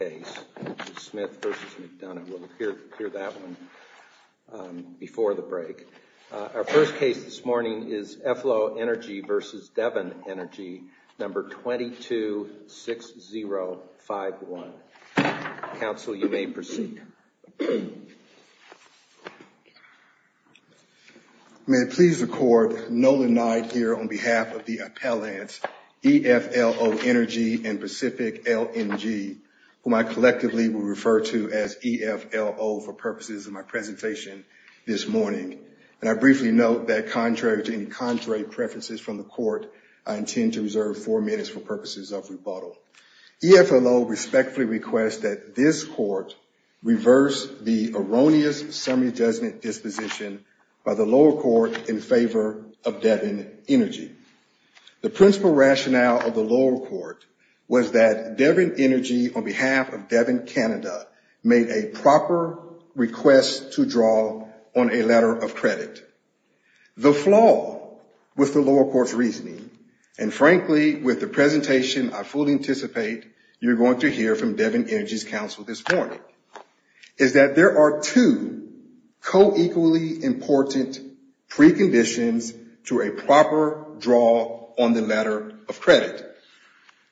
May I please record Nolan Knight here on behalf of the Appellants EFLO Energy and Pacific LNG, whom I collectively will refer to as EFLO for purposes of my presentation this morning. And I briefly note that contrary to any contrary preferences from the court, I intend to reserve four minutes for purposes of rebuttal. EFLO respectfully requests that this court reverse the erroneous summary judgment disposition by the lower court in favor of Devon Energy. The principal rationale of the lower court was that Devon Energy, on behalf of Devon Canada, made a proper request to draw on a letter of credit. The flaw with the lower court's reasoning, and frankly with the presentation I fully anticipate you're going to hear from Devon Energy's counsel this morning, is that there are two co-equally important preconditions to a proper draw on the letter of credit.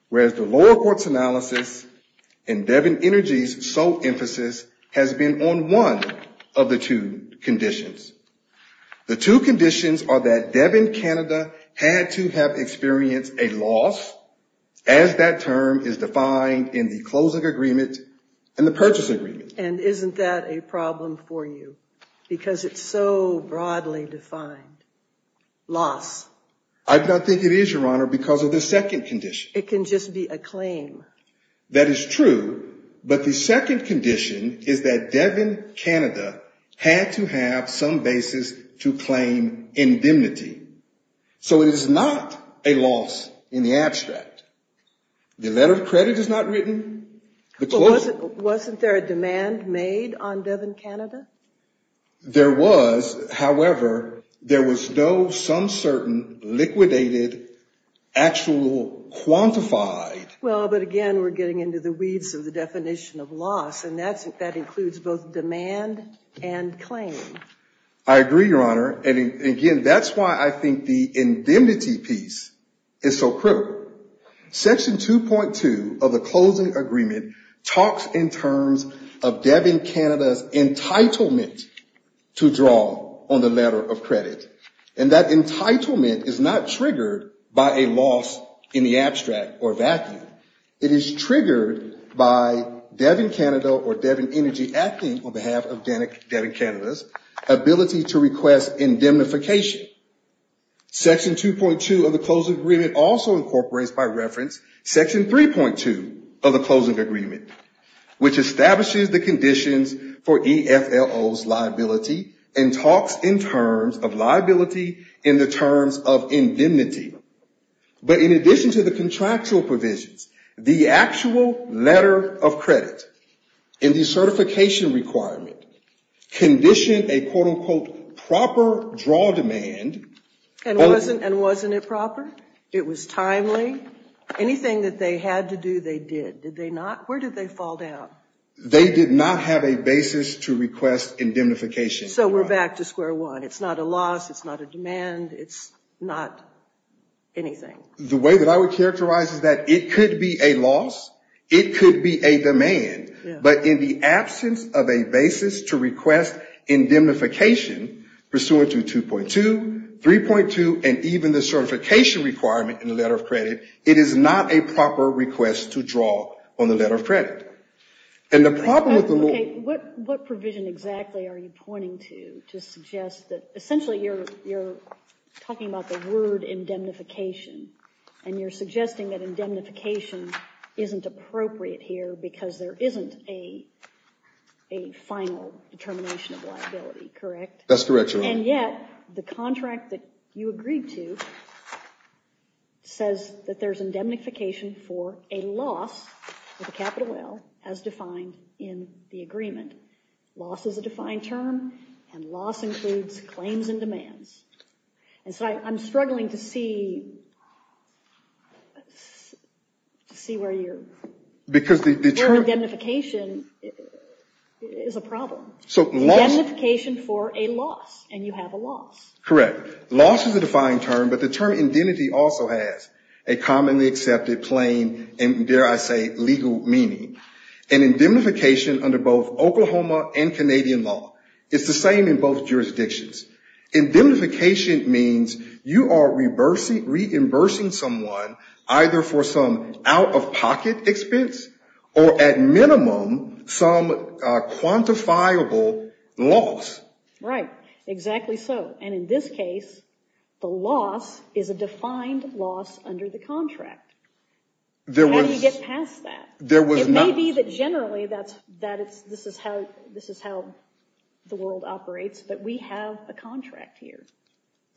Whereas the lower court's analysis and Devon Energy's sole emphasis has been on one of the two conditions. The two conditions are that Devon Canada had to have experienced a loss, as that term is defined in the closing agreement and the purchase agreement. And isn't that a problem for you? Because it's so broadly defined. Loss. I don't think it is, Your Honor, because of the second condition. It can just be a claim. That is true, but the second condition is that Devon Canada had to have some basis to claim indemnity. So it is not a The letter of credit is not written. Wasn't there a demand made on Devon Canada? There was. However, there was no some certain liquidated actual quantified. Well, but again, we're getting into the weeds of the definition of loss, and that includes both demand and claim. I agree, Your Honor. And again, that's why I think the indemnity piece is so critical. Section 2.2 of the closing agreement talks in terms of Devon Canada's entitlement to draw on the letter of credit. And that entitlement is not triggered by a loss in the abstract or vacuum. It is triggered by Devon Canada or Devon Energy acting on behalf of Devon Canada's ability to request indemnification. Section 2.2 of the closing agreement also incorporates, by reference, section 3.2 of the closing agreement, which establishes the conditions for EFLO's liability and talks in terms of liability in the terms of indemnity. But in addition to the condition a, quote, unquote, proper draw demand. And wasn't it proper? It was timely? Anything that they had to do, they did. Did they not? Where did they fall down? They did not have a basis to request indemnification. So we're back to square one. It's not a loss. It's not a demand. It's not anything. The way that I would characterize it is that it could be a loss. It could be a demand. But in the absence of a basis to request indemnification pursuant to 2.2, 3.2, and even the certification requirement in the letter of credit, it is not a proper request to draw on the letter of credit. Okay. What provision exactly are you pointing to to suggest that essentially you're talking about the word indemnification and you're suggesting that indemnification isn't appropriate here because there isn't a final determination of liability, correct? And yet the contract that you agreed to says that there's indemnification for a loss with a capital L as defined in the agreement. Loss is a defined term, and loss includes claims and demands. And so I'm struggling to see where you're... Because the term... Where indemnification is a problem. Indemnification for a loss, and you have a loss. Correct. Loss is a defined term, but the term indemnity also has a commonly accepted plain and, dare I say, legal meaning. And indemnification under both Oklahoma and Canadian law is the same in both jurisdictions. Indemnification means you are reimbursing someone either for some out-of-pocket expense or, at minimum, some quantifiable loss. Right. Exactly so. And in this case, the loss is a defined loss under the contract. There was... How do you get past that? There was not... It may be that generally this is how the world operates, but we have a contract here.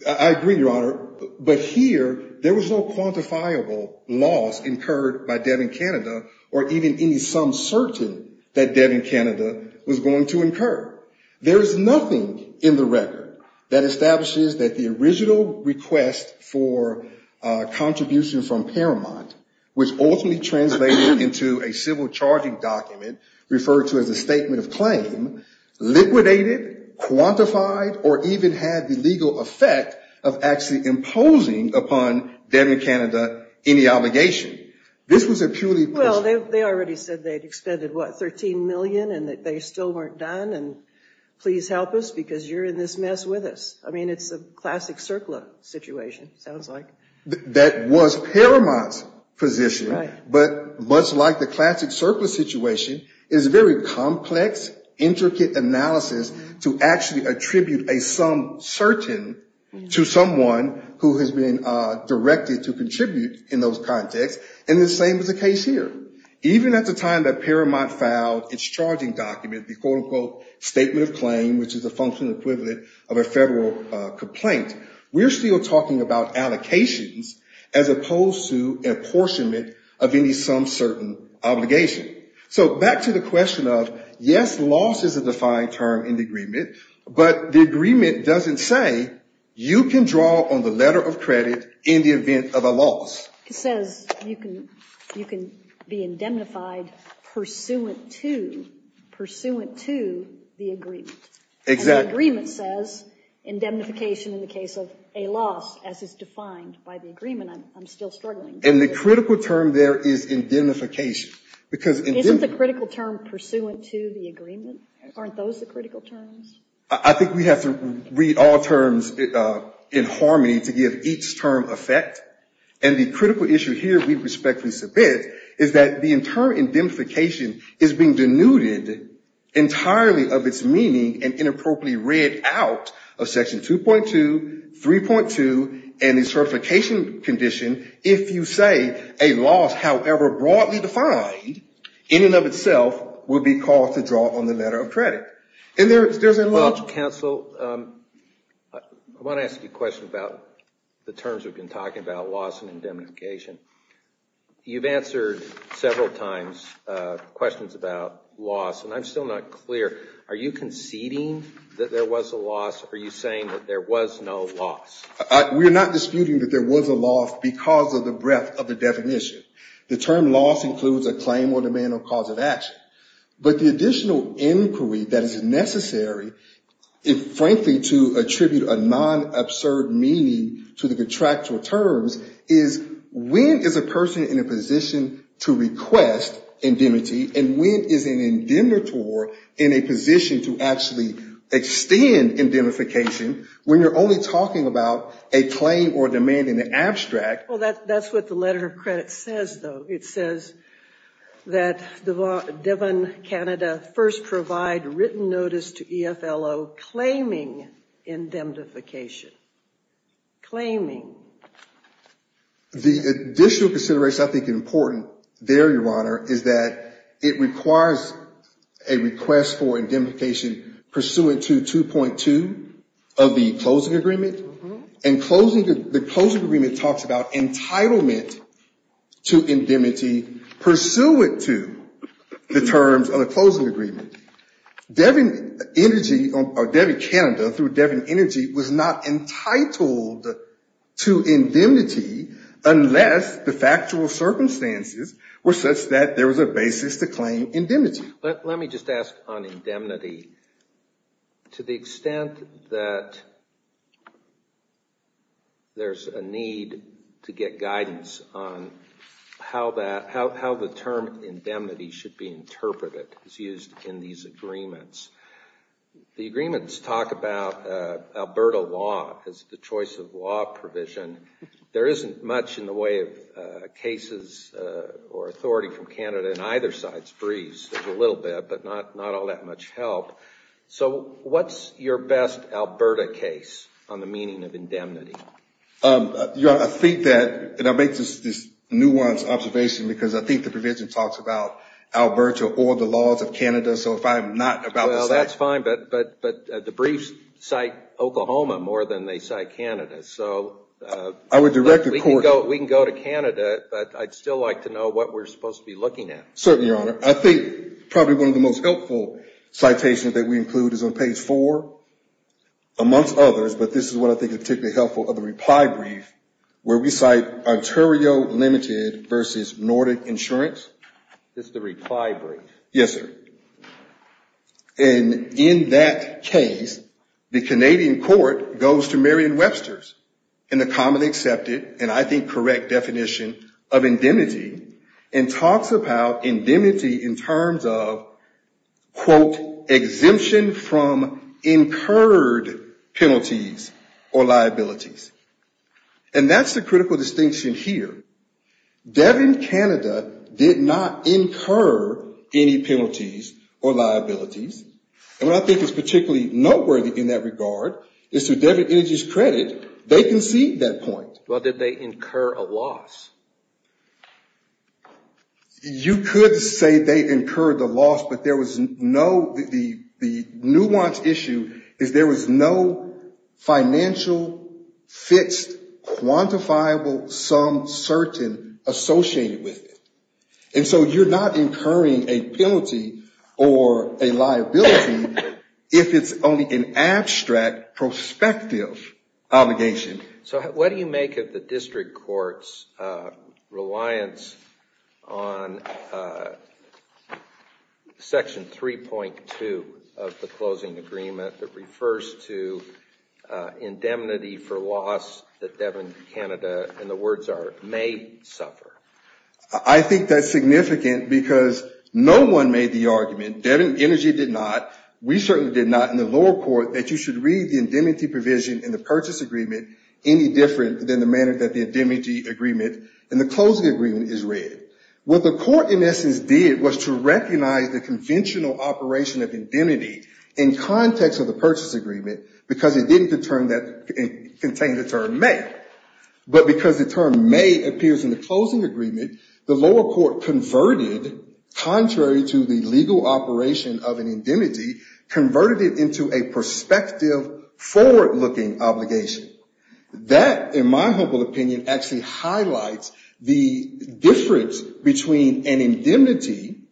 I agree, Your Honor, but here there was no quantifiable loss incurred by Devin Canada or even any sum certain that Devin Canada was going to incur. There is nothing in the record that establishes that the original request for a contribution from Paramount, which ultimately translated into a civil charging document referred to as a statement of claim, liquidated, quantified, or even had the legal effect of actually imposing upon Devin Canada any obligation. This was a purely... Well, they already said they had expended, what, $13 million and that they still weren't done, and please help us because you're in this mess with us. I mean, it's a classic CERCLA situation, sounds like. That was Paramount's position. Right. But much like the classic CERCLA situation, it's a very complex, intricate analysis to actually attribute a sum certain to someone who has been directed to contribute in those contexts. And the same is the case here. Even at the time that Paramount filed its charging document, the quote, unquote, statement of claim, which is a functional equivalent of a federal complaint, we're still talking about allocations as opposed to apportionment of any sum certain obligation. So back to the question of, yes, loss is a defined term in the agreement, but the agreement doesn't say you can draw on the letter of credit in the event of a loss. It says you can be indemnified pursuant to the agreement. Exactly. And the agreement says indemnification in the case of a loss as is defined by the agreement. I'm still struggling. And the critical term there is indemnification. Isn't the critical term pursuant to the agreement? Aren't those the critical terms? I think we have to read all terms in harmony to give each term effect. And the critical issue here we respectfully submit is that the term indemnification is being denuded entirely of its meaning and inappropriately read out of Section 2.2, 3.2, and the certification condition. If you say a loss, however broadly defined, in and of itself will be called to draw on the letter of credit. Well, counsel, I want to ask you a question about the terms we've been talking about, loss and indemnification. You've answered several times questions about loss, and I'm still not clear. Are you conceding that there was a loss? Are you saying that there was no loss? We're not disputing that there was a loss because of the breadth of the definition. The term loss includes a claim or demand or cause of action. But the additional inquiry that is necessary, frankly, to attribute a non-absurd meaning to the contractual terms, is when is a person in a position to request indemnity and when is an indemnitor in a position to actually extend indemnification when you're only talking about a claim or demand in the abstract? Well, that's what the letter of credit says, though. It says that Devon, Canada, first provide written notice to EFLO claiming indemnification. Claiming. The additional consideration I think is important there, Your Honor, is that it requires a request for indemnification pursuant to 2.2 of the closing agreement. And the closing agreement talks about entitlement to indemnity pursuant to the terms of the closing agreement. Devon, Canada, through Devon Energy, was not entitled to indemnity unless the factual circumstances were such that there was a basis to claim indemnity. Let me just ask on indemnity. To the extent that there's a need to get guidance on how the term indemnity should be interpreted is used in these agreements. The agreements talk about Alberta law as the choice of law provision. There isn't much in the way of cases or authority from Canada in either side's briefs. There's a little bit, but not all that much help. So what's your best Alberta case on the meaning of indemnity? Your Honor, I think that, and I make this nuanced observation because I think the provision talks about Alberta or the laws of Canada. So if I'm not about to cite- Well, that's fine. But the briefs cite Oklahoma more than they cite Canada. So we can go to Canada, but I'd still like to know what we're supposed to be looking at. Certainly, Your Honor. I think probably one of the most helpful citations that we include is on page 4, amongst others, but this is what I think is particularly helpful of the reply brief where we cite Ontario Limited versus Nordic Insurance. This is the reply brief? Yes, sir. And in that case, the Canadian court goes to Merriam-Webster's in the commonly accepted, and I think correct, definition of indemnity and talks about indemnity in terms of, quote, exemption from incurred penalties or liabilities. And that's the critical distinction here. Devin Canada did not incur any penalties or liabilities. And what I think is particularly noteworthy in that regard is, to Devin Energy's credit, they concede that point. Well, did they incur a loss? You could say they incurred a loss, but there was no the nuance issue is there was no financial, fixed, quantifiable, some, certain associated with it. And so you're not incurring a penalty or a liability if it's only an abstract, prospective obligation. So what do you make of the district court's reliance on Section 3.2 of the closing agreement that refers to indemnity for loss that Devin Canada, in the words are, may suffer? I think that's significant because no one made the argument, Devin Energy did not, we certainly did not, in the lower court that you should read the indemnity provision in the purchase agreement any different than the manner that the indemnity agreement in the closing agreement is read. What the court, in essence, did was to recognize the conventional operation of indemnity in context of the purchase agreement, because it didn't contain the term may. But because the term may appears in the closing agreement, the lower court converted, contrary to the legal operation of an indemnity, converted it into a prospective, forward-looking obligation. That, in my humble opinion, actually highlights the difference between an indemnity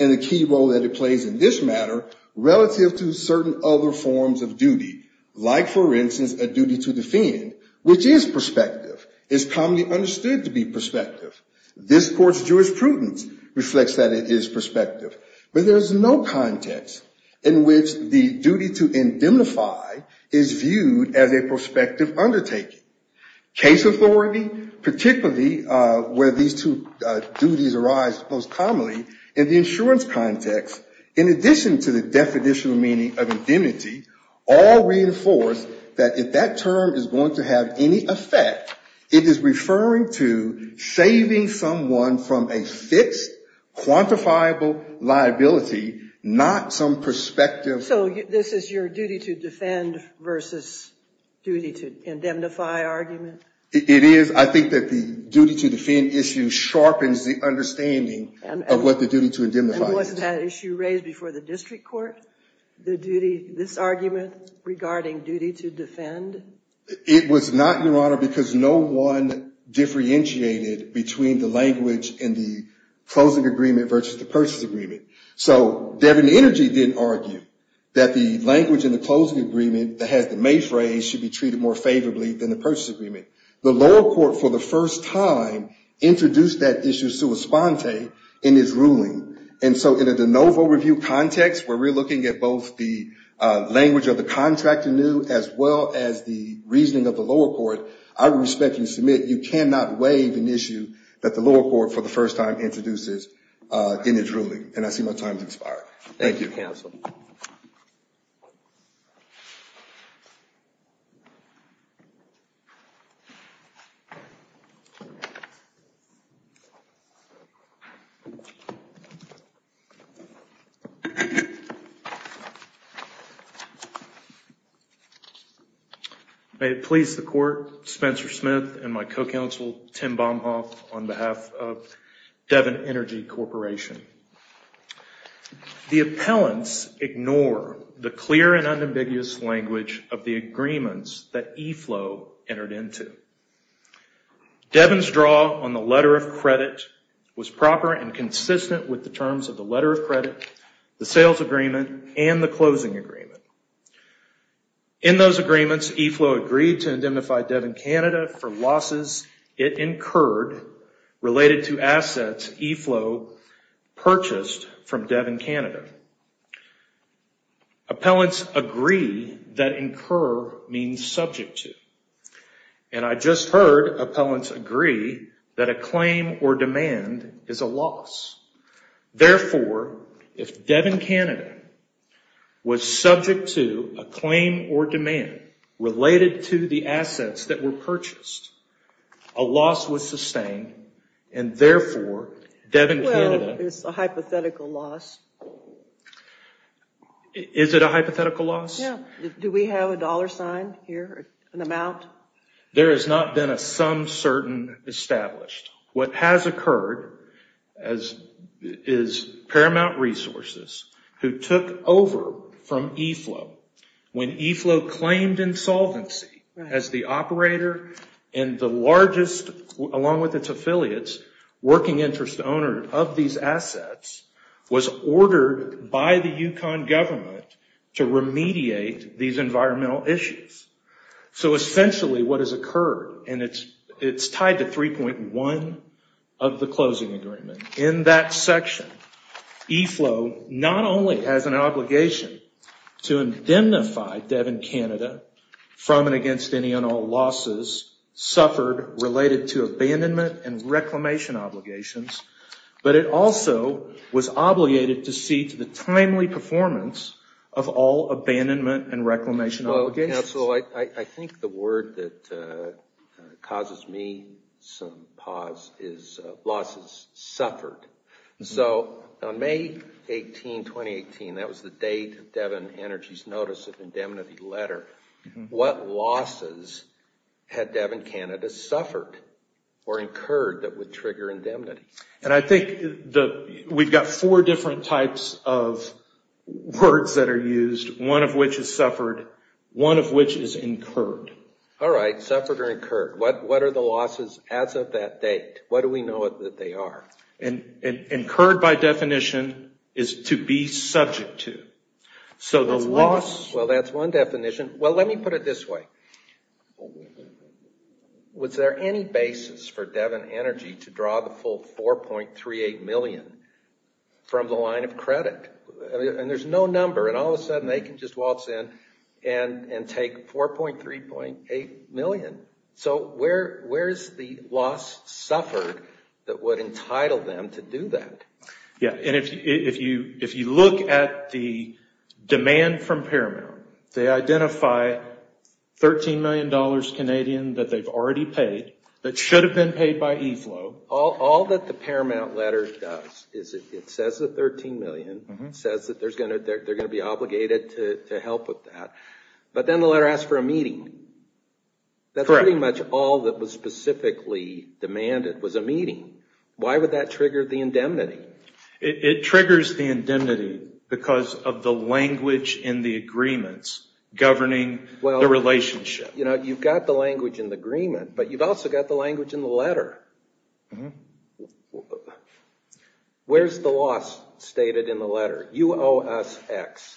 and the key role that it plays in this matter relative to certain other forms of duty. Like, for instance, a duty to defend, which is prospective, is commonly understood to be prospective. This court's jurisprudence reflects that it is prospective. But there's no context in which the duty to indemnify is viewed as a prospective undertaking. Case authority, particularly where these two duties arise most commonly, in the insurance context, in addition to the definitional meaning of indemnity, all reinforce that if that term is going to have any effect, it is referring to saving someone from a fixed, quantifiable liability, not some prospective. So this is your duty to defend versus duty to indemnify argument? It is. I think that the duty to defend issue sharpens the understanding of what the duty to indemnify is. Wasn't that issue raised before the district court, this argument regarding duty to defend? It was not, Your Honor, because no one differentiated between the language in the closing agreement versus the purchase agreement. So Devin Energy didn't argue that the language in the closing agreement that has the may phrase should be treated more favorably than the purchase agreement. The lower court, for the first time, introduced that issue sua sponte in his ruling. And so in a de novo review context, where we're looking at both the language of the contract anew as well as the reasoning of the lower court, I respectfully submit you cannot waive an issue that the lower court, for the first time, introduces in its ruling. And I see my time has expired. Thank you. May it please the court, Spencer Smith and my co-counsel, Tim Baumhoff, on behalf of Devin Energy Corporation. The appellants ignore the clear and unambiguous language of the agreements that EFLOW entered into. Devin's draw on the letter of credit was proper and consistent with the terms of the letter of credit, the sales agreement, and the closing agreement. In those agreements, EFLOW agreed to indemnify Devin Canada for losses it incurred related to assets EFLOW purchased from Devin Canada. Appellants agree that incur means subject to. And I just heard appellants agree that a claim or demand is a loss. Therefore, if Devin Canada was subject to a claim or demand related to the assets that were purchased, a loss was sustained, and is it a hypothetical loss? There has not been a some certain established. What has occurred is Paramount Resources, who took over from EFLOW, when EFLOW claimed insolvency as the operator and the largest, along with its affiliates, working interest owner of these assets, was ordered the by the Yukon government to remediate these environmental issues. So essentially what has occurred, and it's tied to 3.1 of the closing agreement, in that section, EFLOW not only has an obligation to indemnify Devin Canada from and against any and all losses suffered related to abandonment and reclamation obligations, but it also was a timely performance of all abandonment and reclamation obligations. I think the word that causes me some pause is losses suffered. So on May 18, 2018, that was the date Devin Energy's notice of indemnity letter. What losses had Devin Canada suffered or incurred that would trigger indemnity? And I think we've got four different types of words that are used, one of which is suffered, one of which is incurred. All right, suffered or incurred. What are the losses as of that date? What do we know that they are? Incurred by definition is to be subject to. Well, that's one definition. Well, let me put it this way. Was there any basis for Devin Energy to draw the full force of the loss? I mean, it's 4.38 million from the line of credit, and there's no number. And all of a sudden, they can just waltz in and take 4.38 million. So where is the loss suffered that would entitle them to do that? Yeah. And if you look at the demand from Paramount, they identify $13 million Canadian that they've already paid that should have been paid by EFLOW. All that the Paramount letter does is it says the $13 million. It says that they're going to be obligated to help with that. But then the letter asks for a meeting. That's pretty much all that was specifically demanded was a meeting. Why would that trigger the indemnity? It triggers the indemnity because of the language in the agreements Where's the loss stated in the letter? UOSX.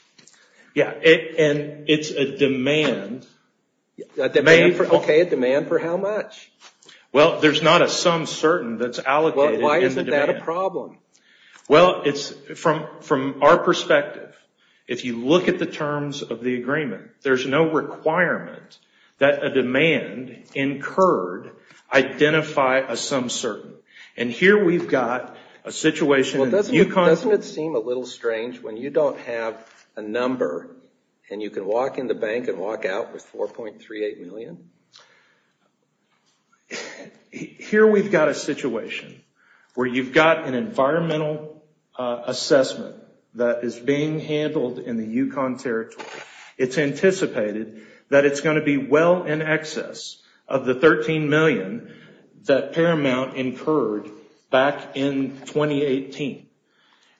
Yeah, and it's a demand. Okay, a demand for how much? Well, there's not a sum certain that's allocated. Why isn't that a problem? Well, from our perspective, if you look at the terms of the agreement, there's no requirement that a demand incurred identify a sum certain. And here we've got a situation. Doesn't it seem a little strange when you don't have a number and you can walk in the bank and walk out with $4.38 million? Here we've got a situation where you've got an environmental assessment that is being handled in the Yukon territory. It's anticipated that it's going to be well in excess of the $13 million that Paramount incurred back in 2018.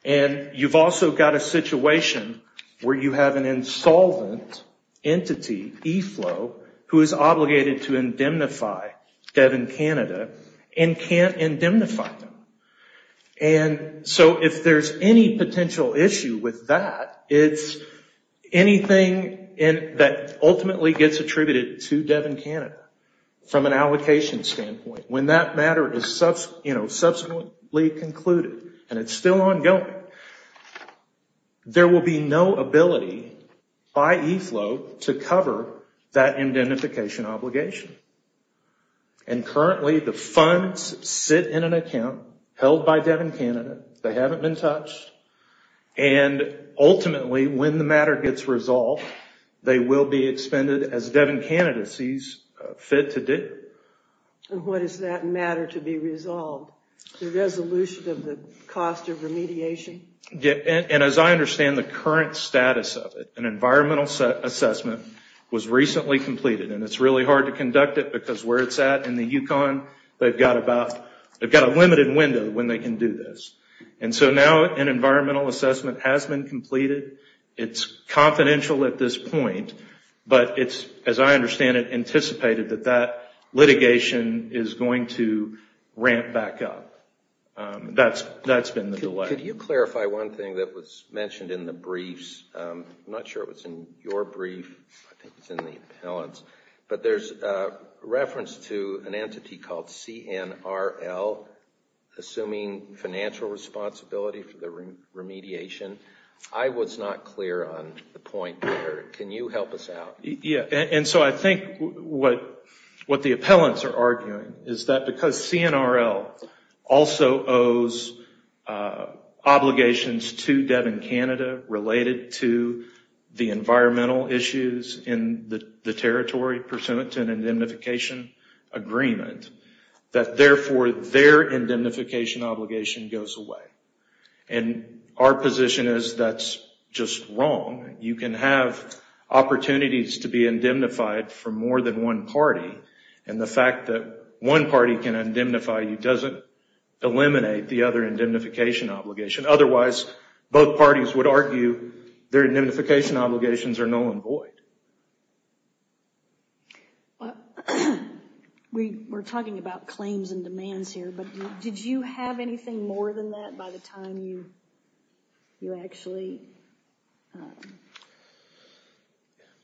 And you've also got a situation where you have an insolvent entity, EFLOW, who is obligated to So if there's any potential issue with that, it's anything that ultimately gets attributed to Devon Canada from an allocation standpoint. When that matter is subsequently concluded and it's still ongoing, there will be no ability by EFLOW to cover that identification obligation. And currently, the funds sit in an account held by Devon Canada. They haven't been touched. And ultimately, when the matter gets resolved, they will be expended as Devon Canada sees fit to do. And what is that matter to be resolved? The resolution of the cost of remediation? And as I understand the current status of it, an environmental assessment was recently completed. And it's really hard to conduct it because where it's at in the Yukon, they've got a limited window when they can do this. And so now an environmental assessment has been completed. It's confidential at this point, but it's, as I understand it, anticipated that that litigation is going to ramp back up. That's been the delay. Could you clarify one thing that was mentioned in the briefs? I'm not sure it was in your brief. I think it was in the appellant's. But there's a reference to an entity called CNRL assuming financial responsibility for the remediation. I was not clear on the point there. Can you help us out? And so I think what the appellants are arguing is that because CNRL also owes obligations to Devon Canada related to the environmental issues in the territory pursuant to an indemnification agreement, that therefore their indemnification obligation goes away. And our position is that's just wrong. You can have opportunities to be indemnified for more than one party. And the fact that one party can indemnify you doesn't eliminate the other indemnification obligation. Otherwise, both parties would argue their indemnification obligations are null and void. We're talking about claims and demands here, but did you have anything more than that by the time you actually...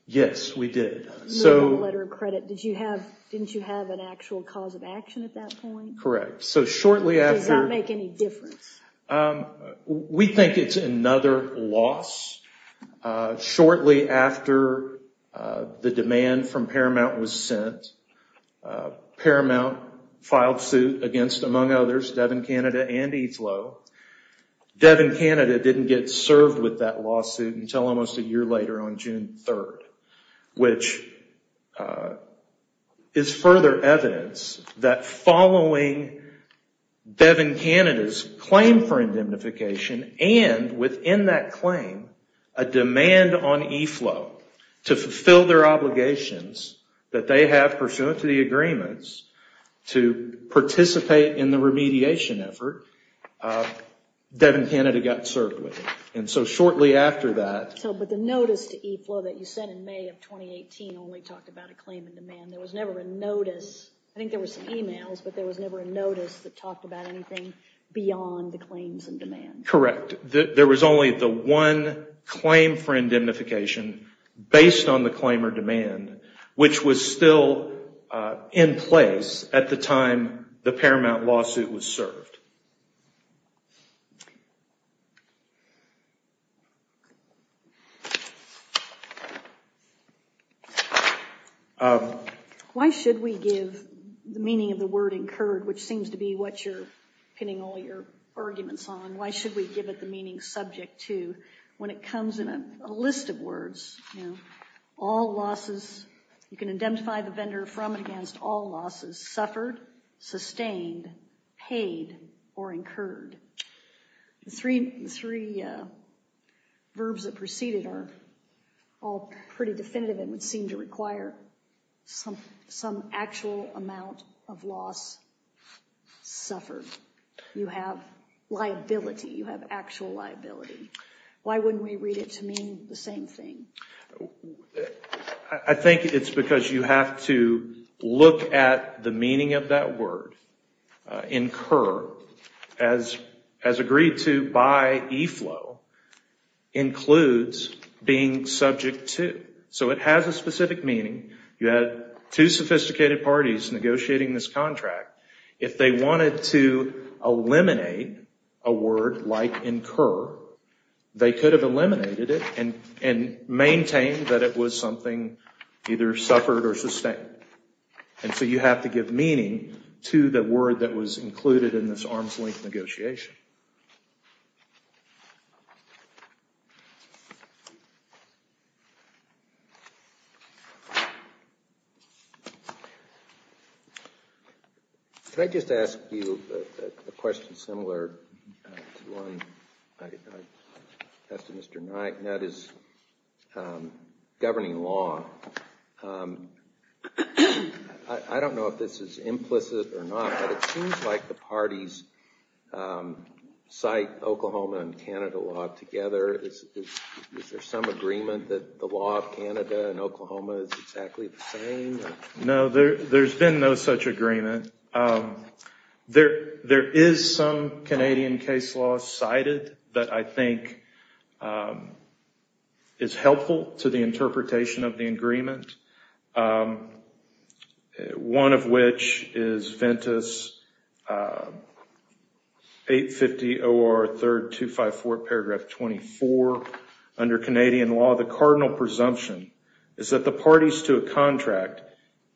Yes, we did. Didn't you have an actual cause of action at that point? Correct. So shortly after... Does that make any difference? We think it's another loss. Shortly after the demand from Paramount was sent, Paramount filed suit against, among others, Devon Canada and EASLO. Devon Canada didn't get served with that lawsuit until almost a year later on June 3rd, which is further evidence that following Devon Canada's claim for indemnification and within that claim, a demand on EASLO to fulfill their obligations that they have pursuant to the agreements to participate in the remediation effort, Devon Canada got served with it. And so shortly after that... In 2018, only talked about a claim and demand. There was never a notice. I think there were some emails, but there was never a notice that talked about anything beyond the claims and demand. Correct. There was only the one claim for indemnification based on the claim or demand, which was still in place at the time the Paramount lawsuit was served. Why should we give the meaning of the word incurred, which seems to be what you're pinning all your arguments on? Why should we give it the meaning subject to when it comes in a list of words? All losses, you can indemnify the vendor from and against all losses, suffered, sustained, paid, or incurred. The three verbs that preceded are all pretty definitive and would seem to require some actual amount of loss suffered. You have liability. You have actual liability. Why wouldn't we read it to mean the same thing? I think it's because you have to look at the meaning of that word, incur, as agreed to by EFLOW, includes being subject to. It has a specific meaning. You had two sophisticated parties negotiating this contract. If they wanted to eliminate a word like incur, they could have eliminated it and maintained that it was something either suffered or sustained. You have to give meaning to the word that was included in this arm's-length negotiation. Can I just ask you a question similar to one I asked to Mr. Nutt, and that is governing law. I don't know if this is implicit or not, but it seems like the parties cite Oklahoma and Canada law together. Is there some agreement that the law of Canada and Oklahoma is exactly the same? No, there's been no such agreement. There is some Canadian case law cited that I think is helpful to the interpretation of the agreement. One of which is Ventus 850 OR 3254 paragraph 24 under Canadian law. The cardinal presumption is that the parties to a contract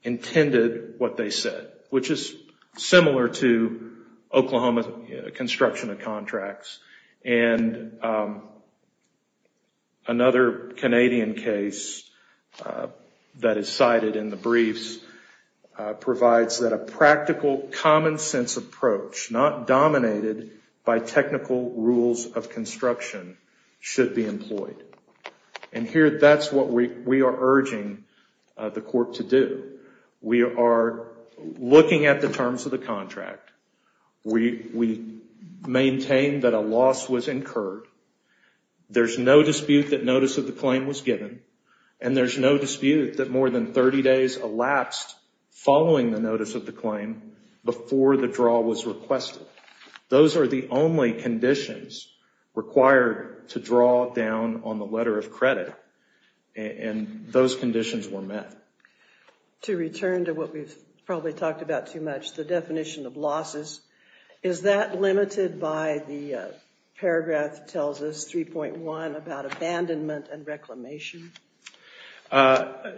intended what they said, which is similar to Oklahoma's construction of contracts. Another Canadian case that is cited in the briefs provides that a practical common sense approach, not dominated by technical rules of construction, should be employed. That's what we are urging the court to do. We are looking at the terms of the contract. We maintain that a loss was incurred. There's no dispute that notice of the claim was given, and there's no dispute that more than 30 days elapsed following the notice of the claim before the draw was requested. Those are the only conditions required to draw down on the letter of credit, and those conditions were met. To return to what we've probably talked about too much, the definition of losses, is that limited by the paragraph that tells us 3.1 about abandonment and reclamation? I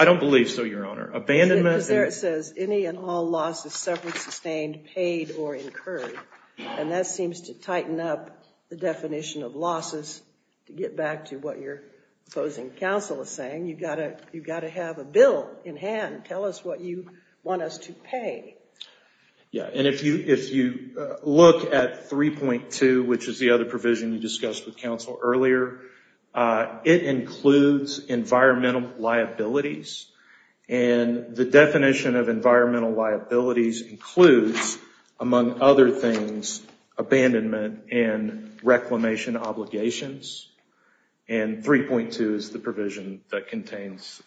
don't believe so, Your Honor. It says, any and all losses suffered, sustained, paid, or incurred. That seems to tighten up the definition of losses. To get back to what your opposing counsel is saying, you've got to have a bill in hand. Tell us what you want us to pay. If you look at 3.2, which is the other provision you discussed with counsel earlier, it includes environmental liabilities. The definition of environmental liabilities includes, among other things, abandonment and reclamation obligations. 3.2 is the provision that contains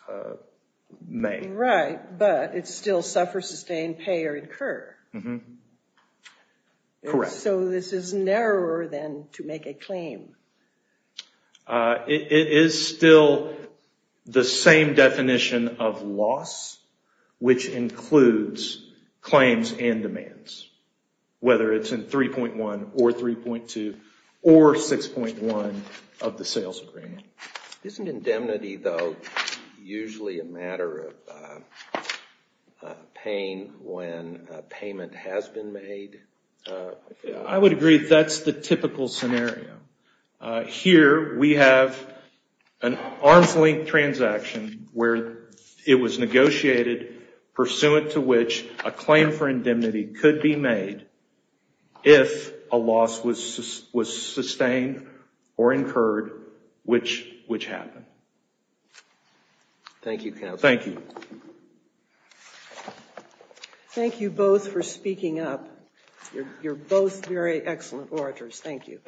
may. Right, but it's still suffer, sustain, pay, or incur. Correct. This is narrower than to make a claim. It is still the same definition of loss, which includes claims and demands, whether it's in 3.1 or 3.2 or 6.1 of the sales agreement. Isn't indemnity, though, usually a matter of paying when a payment has been made? I would agree that's the typical scenario. Here we have an arm's length transaction where it was negotiated pursuant to which a claim for indemnity could be made if a loss was sustained or incurred, which happened. Thank you, counsel. You're both very excellent orators. Thank you.